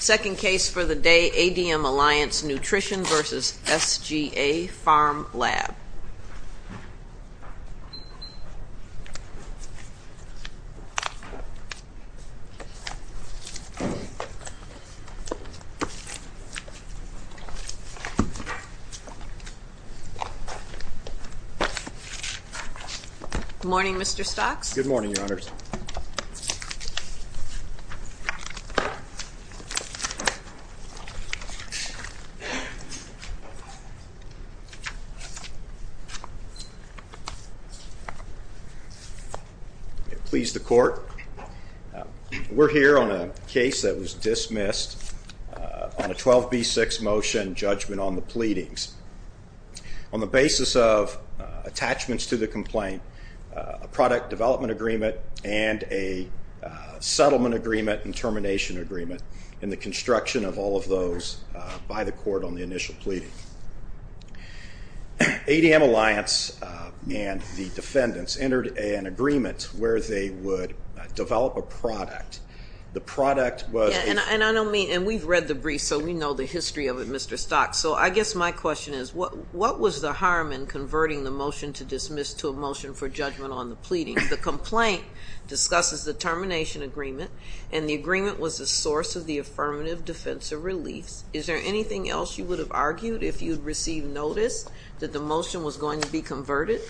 Second case for the day, ADM Alliance Nutrition v. SGA Pharm Lab. Good morning, Mr. Stocks. Good morning, Your Honors. Let me please the Court. We're here on a case that was dismissed on a 12b6 motion judgment on the pleadings. On the basis of attachments to the complaint, a product development agreement, and a settlement agreement and termination agreement, and the construction of all of those by the Court on the initial pleading. ADM Alliance and the defendants entered an agreement where they would develop a product. The product was a ---- And we've read the brief, so we know the history of it, Mr. Stocks. So I guess my question is, what was the harm in converting the motion to dismiss to a motion for judgment on the pleading? The complaint discusses the termination agreement, and the agreement was the source of the affirmative defense or release. Is there anything else you would have argued if you had received notice that the motion was going to be converted?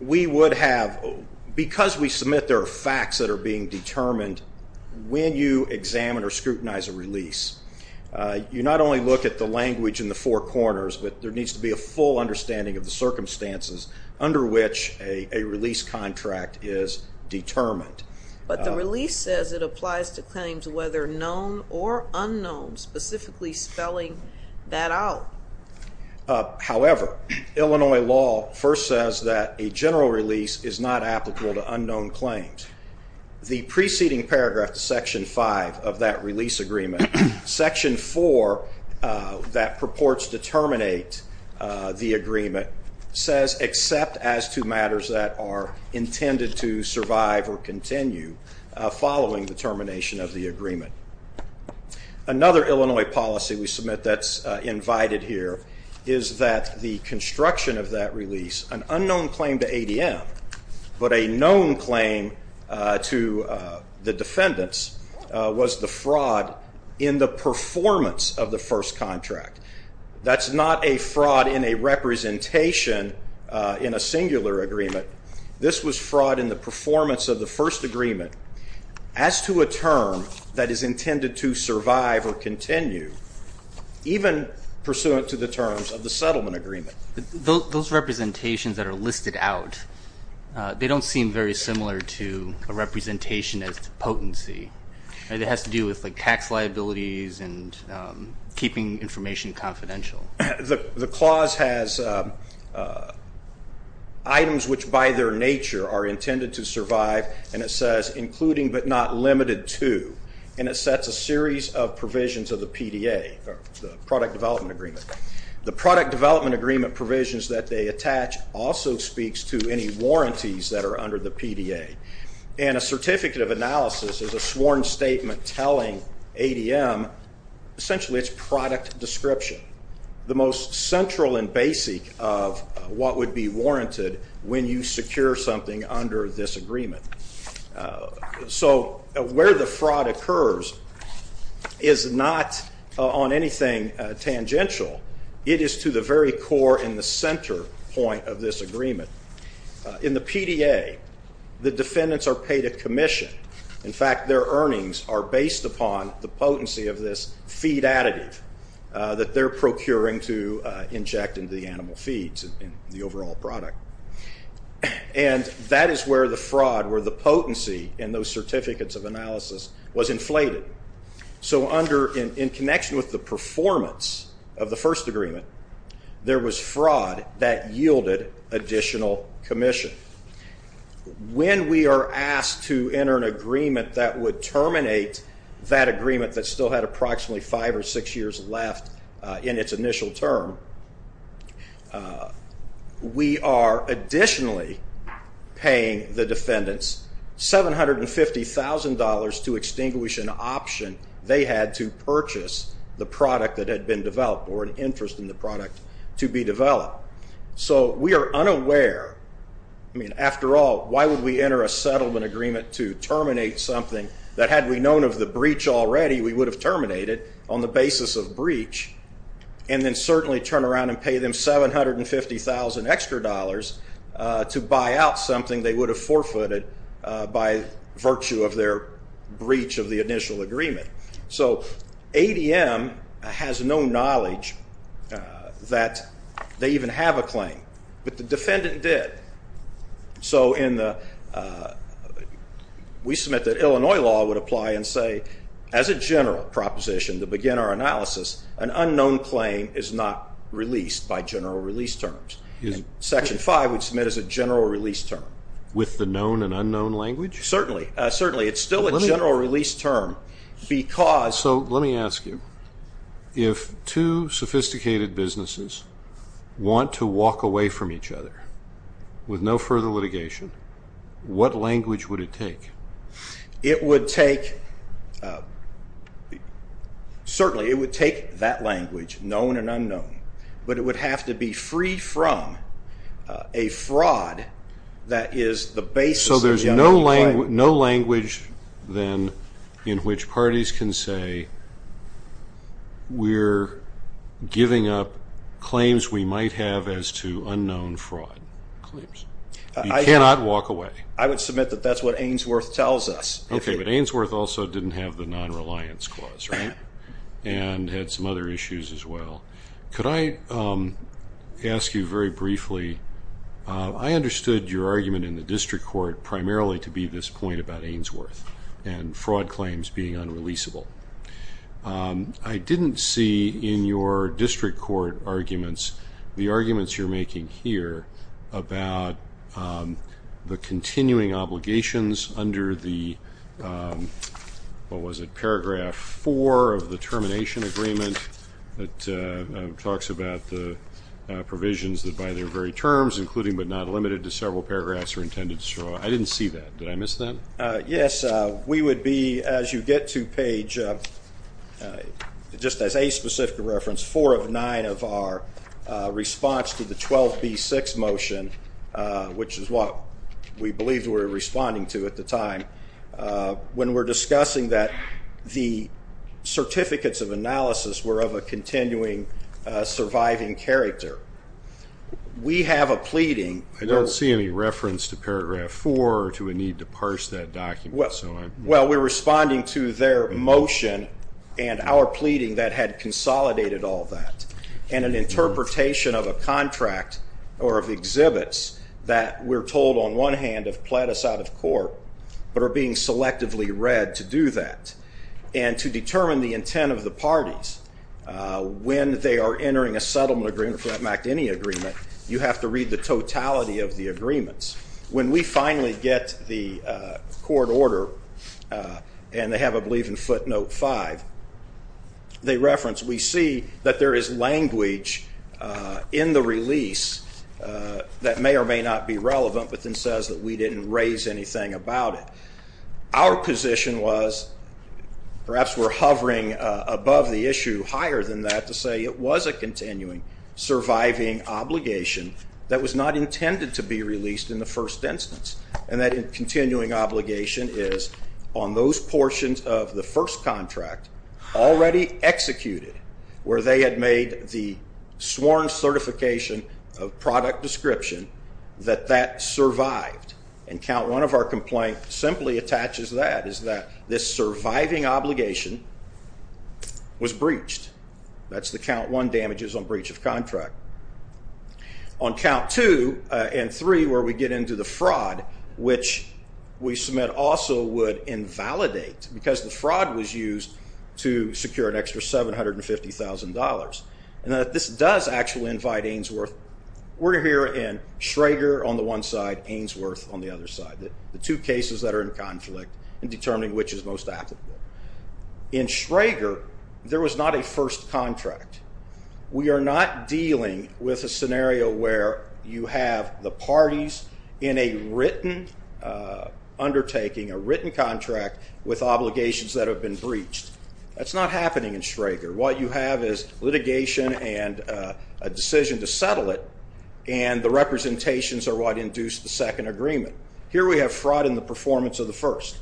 We would have, because we submit there are facts that are being determined, when you examine or scrutinize a release, you not only look at the language in the four corners, but there needs to be a full understanding of the circumstances under which a release contract is determined. But the release says it applies to claims whether known or unknown, specifically spelling that out. However, Illinois law first says that a general release is not applicable to unknown claims. The preceding paragraph to Section 5 of that release agreement, Section 4, that purports to terminate the agreement, says except as to matters that are intended to survive or continue following the termination of the agreement. Another Illinois policy we submit that's invited here is that the construction of that release, an unknown claim to ADM, but a known claim to the defendants, was the fraud in the performance of the first contract. That's not a fraud in a representation in a singular agreement. This was fraud in the performance of the first agreement as to a term that is intended to survive or continue, even pursuant to the terms of the settlement agreement. Those representations that are listed out, they don't seem very similar to a representation as to potency. It has to do with, like, tax liabilities and keeping information confidential. The clause has items which by their nature are intended to survive, and it says including but not limited to, and it sets a series of provisions of the PDA, the Product Development Agreement. The Product Development Agreement provisions that they attach also speaks to any warranties that are under the PDA, and a certificate of analysis is a sworn statement telling ADM essentially its product description, the most central and basic of what would be warranted when you secure something under this agreement. So where the fraud occurs is not on anything tangential. It is to the very core and the center point of this agreement. In the PDA, the defendants are paid a commission. In fact, their earnings are based upon the potency of this feed additive that they're procuring to inject into the animal feeds, the overall product. And that is where the fraud, where the potency in those certificates of analysis was inflated. So in connection with the performance of the first agreement, there was fraud that yielded additional commission. When we are asked to enter an agreement that would terminate that agreement that still had approximately five or six years left in its initial term, we are additionally paying the defendants $750,000 to extinguish an option they had to purchase the product that had been developed or an interest in the product to be developed. So we are unaware. I mean, after all, why would we enter a settlement agreement to terminate something that had we known of the breach already, we would have terminated on the basis of breach and then certainly turn around and pay them $750,000 extra to buy out something they would have forfeited by virtue of their breach of the initial agreement. So ADM has no knowledge that they even have a claim, but the defendant did. So we submit that Illinois law would apply and say as a general proposition to begin our analysis, an unknown claim is not released by general release terms. Section 5 would submit as a general release term. With the known and unknown language? Certainly. It is still a general release term because... Also, let me ask you, if two sophisticated businesses want to walk away from each other with no further litigation, what language would it take? It would take, certainly it would take that language, known and unknown, but it would have to be free from a fraud that is the basis of the... So there is no language then in which parties can say we are giving up claims we might have as to unknown fraud. You cannot walk away. I would submit that that is what Ainsworth tells us. Okay, but Ainsworth also did not have the non-reliance clause, right, and had some other issues as well. Could I ask you very briefly, I understood your argument in the district court primarily to be this point about Ainsworth and fraud claims being unreleasable. I didn't see in your district court arguments the arguments you are making here about the continuing obligations under the, what was it, paragraph four of the termination agreement that talks about the provisions that by their very terms, including but not limited to several paragraphs, are intended to show. I didn't see that. Did I miss that? Yes. We would be, as you get to page, just as a specific reference, four of nine of our response to the 12B6 motion, which is what we believed we were responding to at the time, when we are discussing that the certificates of analysis were of a continuing surviving character. We have a pleading. I don't see any reference to paragraph four or to a need to parse that document. Well, we are responding to their motion and our pleading that had consolidated all that, and an interpretation of a contract or of exhibits that we're told on one hand have pled us out of court but are being selectively read to do that and to determine the intent of the parties. When they are entering a settlement agreement, for that matter, any agreement, you have to read the totality of the agreements. When we finally get the court order, and they have, I believe, in footnote five, they reference, we see that there is language in the release that may or may not be relevant but then says that we didn't raise anything about it. Our position was, perhaps we're hovering above the issue higher than that, to say it was a continuing surviving obligation that was not intended to be released in the first instance, and that continuing obligation is on those portions of the first contract already executed where they had made the sworn certification of product description that that survived. And count one of our complaint simply attaches that, is that this surviving obligation was breached. That's the count one damages on breach of contract. On count two and three where we get into the fraud, which we submit also would invalidate because the fraud was used to secure an extra $750,000. And that this does actually invite Ainsworth. We're here in Schrager on the one side, Ainsworth on the other side. The two cases that are in conflict in determining which is most applicable. In Schrager, there was not a first contract. We are not dealing with a scenario where you have the parties in a written undertaking, a written contract with obligations that have been breached. That's not happening in Schrager. What you have is litigation and a decision to settle it, and the representations are what induce the second agreement. Here we have fraud in the performance of the first,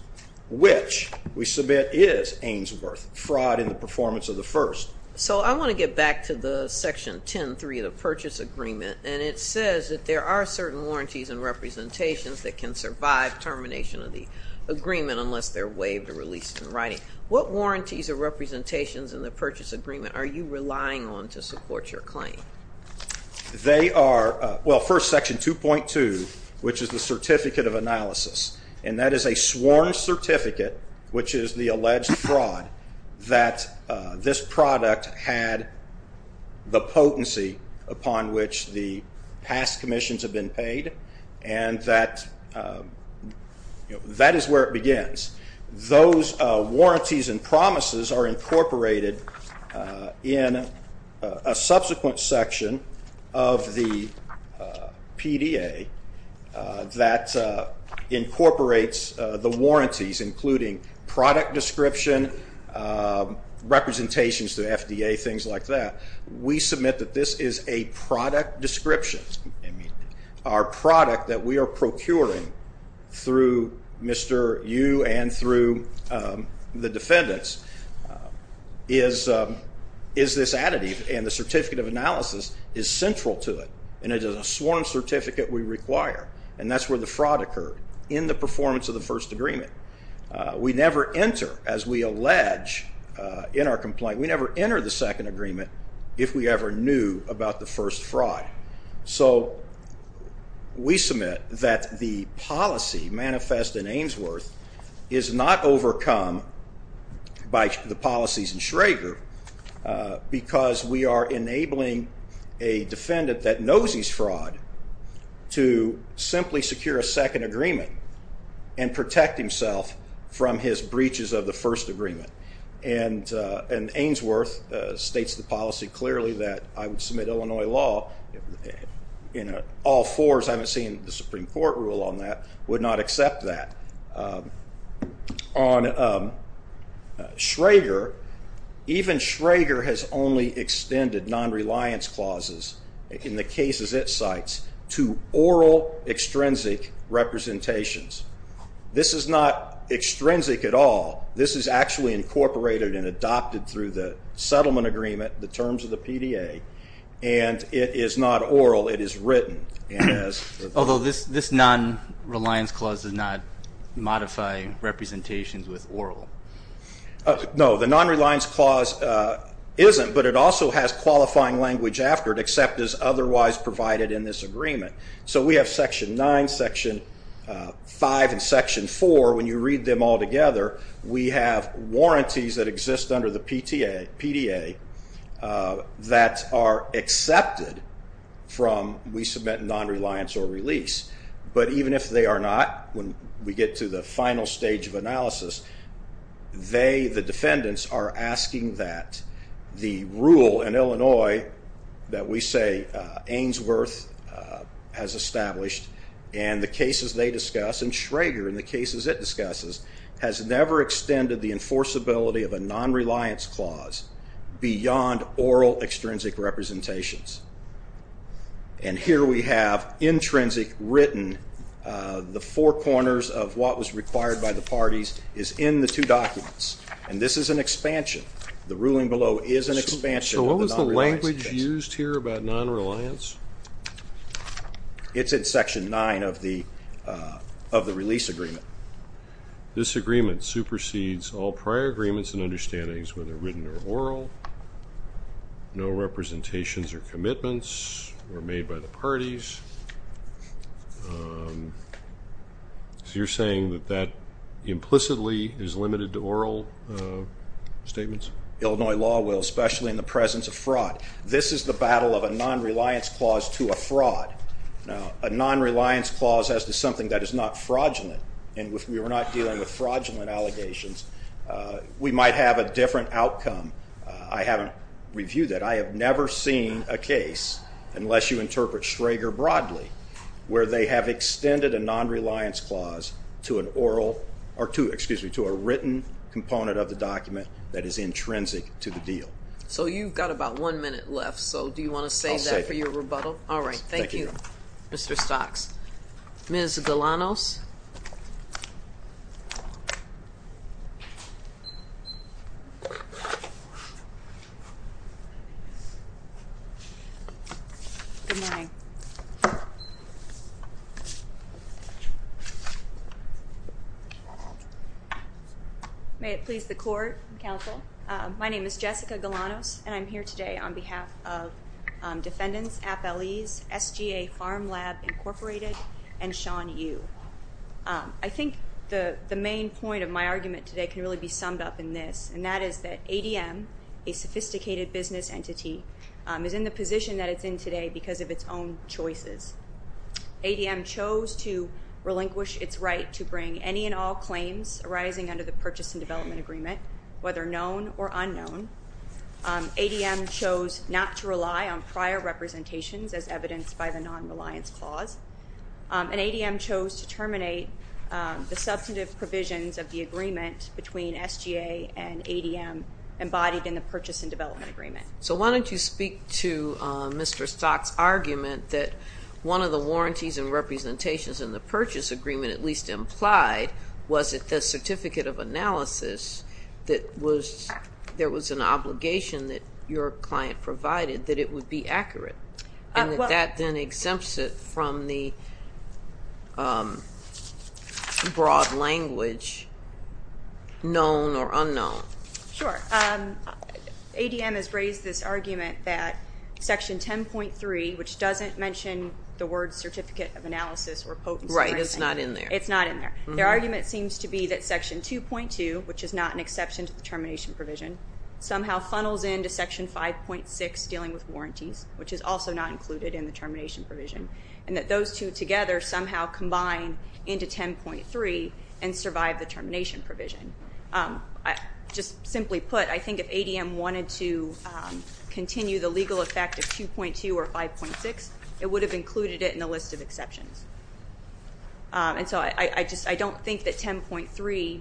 which we submit is Ainsworth, fraud in the performance of the first. So I want to get back to the section 10.3 of the purchase agreement, and it says that there are certain warranties and representations that can survive termination of the agreement unless they're waived or released in writing. What warranties or representations in the purchase agreement are you relying on to support your claim? They are, well, first section 2.2, which is the certificate of analysis, and that is a sworn certificate, which is the alleged fraud, that this product had the potency upon which the past commissions have been paid, and that is where it begins. Those warranties and promises are incorporated in a subsequent section of the PDA that incorporates the warranties, including product description, representations to the FDA, things like that. We submit that this is a product description. Our product that we are procuring through Mr. Yu and through the defendants is this additive, and the certificate of analysis is central to it, and it is a sworn certificate we require, and that's where the fraud occurred in the performance of the first agreement. We never enter, as we allege in our complaint, we never enter the second agreement if we ever knew about the first fraud. So we submit that the policy manifest in Ainsworth is not overcome by the policies in Schrager because we are enabling a defendant that knows he's fraud to simply secure a second agreement and protect himself from his breaches of the first agreement, and Ainsworth states the policy clearly that I would submit Illinois law. All fours, I haven't seen the Supreme Court rule on that, would not accept that. On Schrager, even Schrager has only extended non-reliance clauses in the cases it cites to oral extrinsic representations. This is not extrinsic at all. This is actually incorporated and adopted through the settlement agreement, the terms of the PDA, and it is not oral. It is written. Although this non-reliance clause does not modify representations with oral. No, the non-reliance clause isn't, but it also has qualifying language after it, except as otherwise provided in this agreement. So we have Section 9, Section 5, and Section 4. When you read them all together, we have warranties that exist under the PDA that are accepted from we submit non-reliance or release, but even if they are not, when we get to the final stage of analysis, they, the defendants, are asking that the rule in Illinois that we say Ainsworth has established and the cases they discuss and Schrager and the cases it discusses has never extended the enforceability of a non-reliance clause beyond oral extrinsic representations. And here we have intrinsic written, the four corners of what was required by the parties is in the two documents, and this is an expansion. The ruling below is an expansion of the non-reliance case. So what was the language used here about non-reliance? It's in Section 9 of the release agreement. This agreement supersedes all prior agreements and understandings, whether written or oral. No representations or commitments were made by the parties. So you're saying that that implicitly is limited to oral statements? Illinois law will, especially in the presence of fraud. This is the battle of a non-reliance clause to a fraud. A non-reliance clause as to something that is not fraudulent, and if we were not dealing with fraudulent allegations, we might have a different outcome. I haven't reviewed that. I have never seen a case, unless you interpret Schrager broadly, where they have extended a non-reliance clause to an oral or to a written component of the document that is intrinsic to the deal. So you've got about one minute left. So do you want to save that for your rebuttal? All right. Thank you, Mr. Stocks. Ms. Galanos. Good morning. May it please the Court and Counsel, my name is Jessica Galanos, and I'm here today on behalf of defendants, Appellees, SGA Farm Lab Incorporated, and Sean Yu. I think the main point of my argument today can really be summed up in this, and that is that ADM, a sophisticated business entity, is in the position that it's in today because of its own choices. ADM chose to relinquish its right to bring any and all claims arising under the ADM chose not to rely on prior representations as evidenced by the non-reliance clause, and ADM chose to terminate the substantive provisions of the agreement between SGA and ADM embodied in the purchase and development agreement. So why don't you speak to Mr. Stocks' argument that one of the warranties and representations in the purchase agreement, at least implied, was that the certificate of analysis that was, there was an obligation that your client provided that it would be accurate, and that that then exempts it from the broad language known or unknown. Sure. ADM has raised this argument that Section 10.3, which doesn't mention the word certificate of analysis or potency or anything. Right, it's not in there. It's not in there. Their argument seems to be that Section 2.2, which is not an exception to the termination provision, somehow funnels into Section 5.6 dealing with warranties, which is also not included in the termination provision, and that those two together somehow combine into 10.3 and survive the termination provision. Just simply put, I think if ADM wanted to continue the legal effect of 2.2 or 5.6, it would have included it in the list of exceptions. And so I just, I don't think that 10.3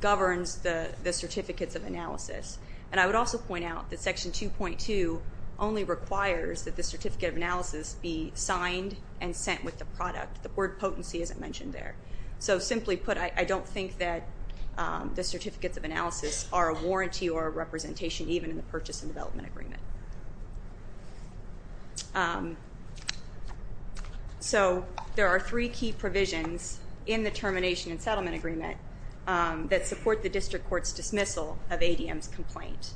governs the certificates of analysis. And I would also point out that Section 2.2 only requires that the certificate of analysis be signed and sent with the product. The word potency isn't mentioned there. So simply put, I don't think that the certificates of analysis are a warranty or a representation, even in the purchase and development agreement. So there are three key provisions in the termination and settlement agreement that support the district court's dismissal of ADM's complaint.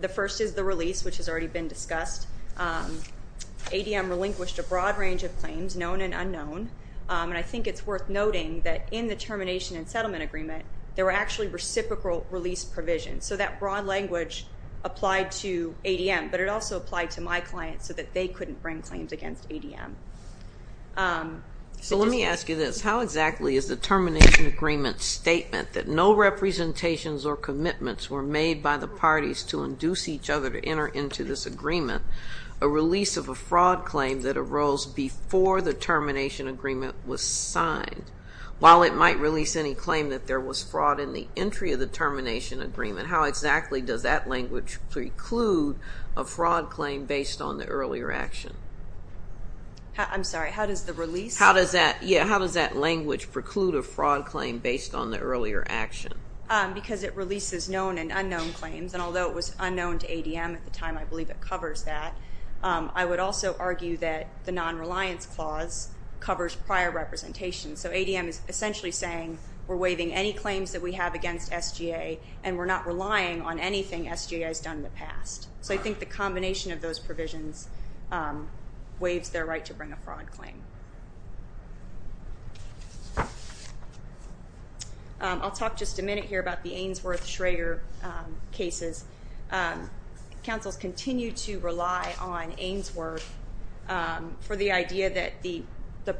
The first is the release, which has already been discussed. ADM relinquished a broad range of claims, known and unknown. And I think it's worth noting that in the termination and settlement agreement, there were actually reciprocal release provisions. So that broad language applied to ADM, but it also applied to my client so that they couldn't bring claims against ADM. So let me ask you this. How exactly is the termination agreement statement that no representations or commitments were made by the parties to induce each other to enter into this agreement a release of a fraud claim that arose before the termination agreement was signed? While it might release any claim that there was fraud in the entry of the termination agreement, how exactly does that language preclude a fraud claim based on the earlier action? I'm sorry. How does the release? Yeah, how does that language preclude a fraud claim based on the earlier action? Because it releases known and unknown claims. And although it was unknown to ADM at the time, I believe it covers that. I would also argue that the non-reliance clause covers prior representation. So ADM is essentially saying we're waiving any claims that we have against SGA and we're not relying on anything SGA has done in the past. So I think the combination of those provisions waives their right to bring a fraud claim. I'll talk just a minute here about the Ainsworth-Schrager cases. Councils continue to rely on Ainsworth for the idea that the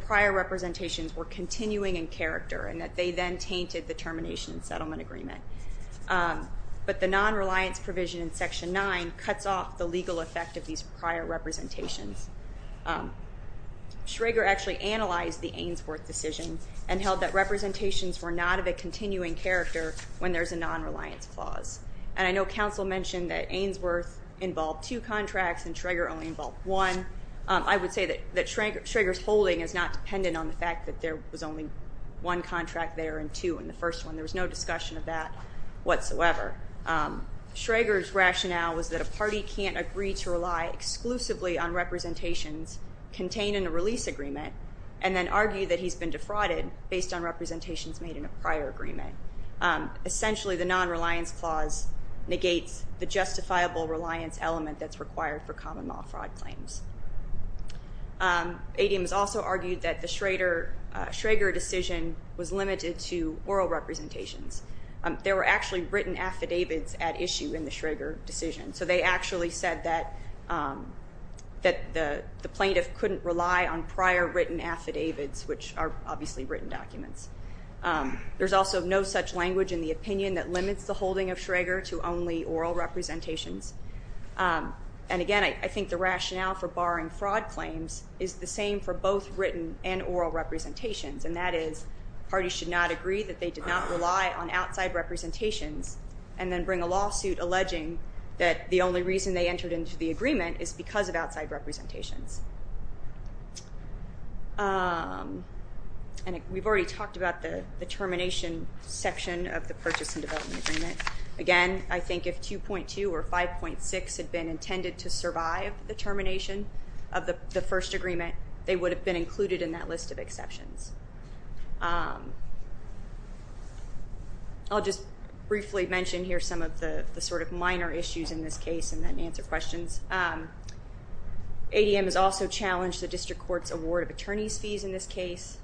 prior representations were continuing in character and that they then tainted the document. But the non-reliance provision in Section 9 cuts off the legal effect of these prior representations. Schrager actually analyzed the Ainsworth decision and held that representations were not of a continuing character when there's a non-reliance clause. And I know Council mentioned that Ainsworth involved two contracts and Schrager only involved one. I would say that Schrager's holding is not dependent on the fact that there was only one contract there and two in the first one. There was no discussion of that whatsoever. Schrager's rationale was that a party can't agree to rely exclusively on representations contained in a release agreement and then argue that he's been defrauded based on representations made in a prior agreement. Essentially, the non-reliance clause negates the justifiable reliance element that's required for common law fraud claims. ADM has also argued that the Schrager decision was limited to oral representations. There were actually written affidavits at issue in the Schrager decision, so they actually said that the plaintiff couldn't rely on prior written affidavits, which are obviously written documents. There's also no such language in the opinion that limits the holding of Schrager to only oral representations. And, again, I think the rationale for barring fraud claims is the same for both written and oral representations, and that is parties should not agree that they did not rely on outside representations and then bring a lawsuit alleging that the only reason they entered into the agreement is because of outside representations. And we've already talked about the termination section of the Purchase and Development Agreement. Again, I think if 2.2 or 5.6 had been intended to survive the termination of the first agreement, they would have been included in that list of exceptions. I'll just briefly mention here some of the sort of minor issues in this case and then answer questions. ADM has also challenged the district court's award of attorneys' fees in this case.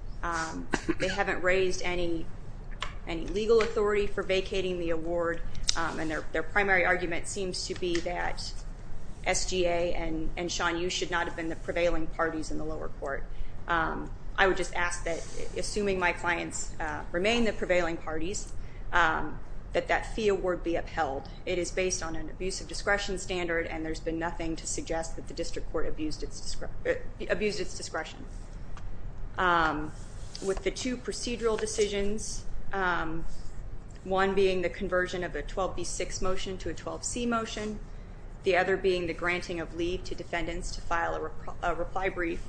They haven't raised any legal authority for vacating the award, and their primary argument seems to be that SGA and Sean Yu should not have been the prevailing parties in the lower court. I would just ask that, assuming my clients remain the prevailing parties, that that fee award be upheld. It is based on an abuse of discretion standard, and there's been nothing to suggest that the district court abused its discretion. With the two procedural decisions, one being the conversion of a 12B6 motion to a 12C motion, the other being the granting of leave to defendants to file a reply brief.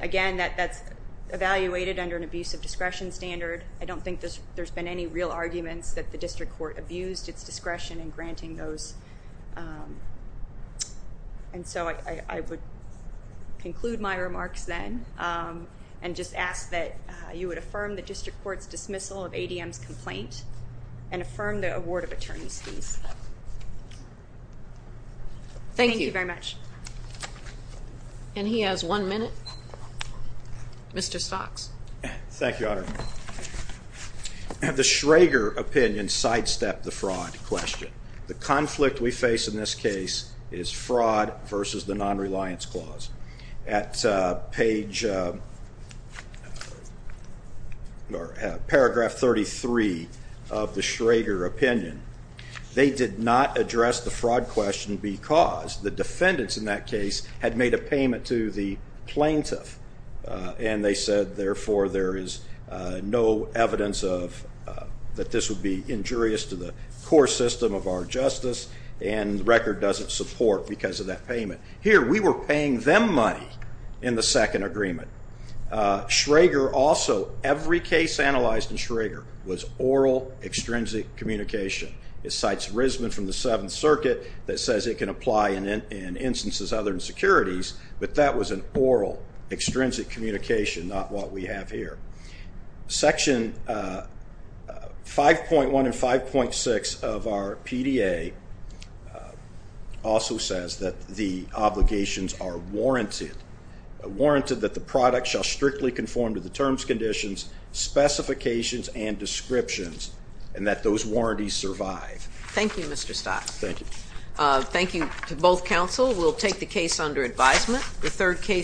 Again, that's evaluated under an abuse of discretion standard. I don't think there's been any real arguments that the district court abused its discretion in granting those. And so I would conclude my remarks then and just ask that you would affirm the district court's dismissal of ADM's complaint and affirm the award of attorneys' fees. Thank you. Thank you very much. And he has one minute. Mr. Stocks. Thank you, Your Honor. The Schrager opinion sidestepped the fraud question. The conflict we face in this case is fraud versus the nonreliance clause. At paragraph 33 of the Schrager opinion, they did not address the fraud question because the defendants in that case had made a payment to the plaintiff, and they said, therefore, there is no evidence that this would be injurious to the core system of our justice, and the record doesn't support because of that payment. Here, we were paying them money in the second agreement. Schrager also, every case analyzed in Schrager, was oral, extrinsic communication. It cites Risman from the Seventh Circuit that says it can apply in instances other than securities, but that was an oral, extrinsic communication, not what we have here. Section 5.1 and 5.6 of our PDA also says that the obligations are warranted, warranted that the product shall strictly conform to the terms, conditions, specifications, and descriptions, and that those warranties survive. Thank you, Mr. Stocks. Thank you. Thank you to both counsel. We'll take the case under advisement.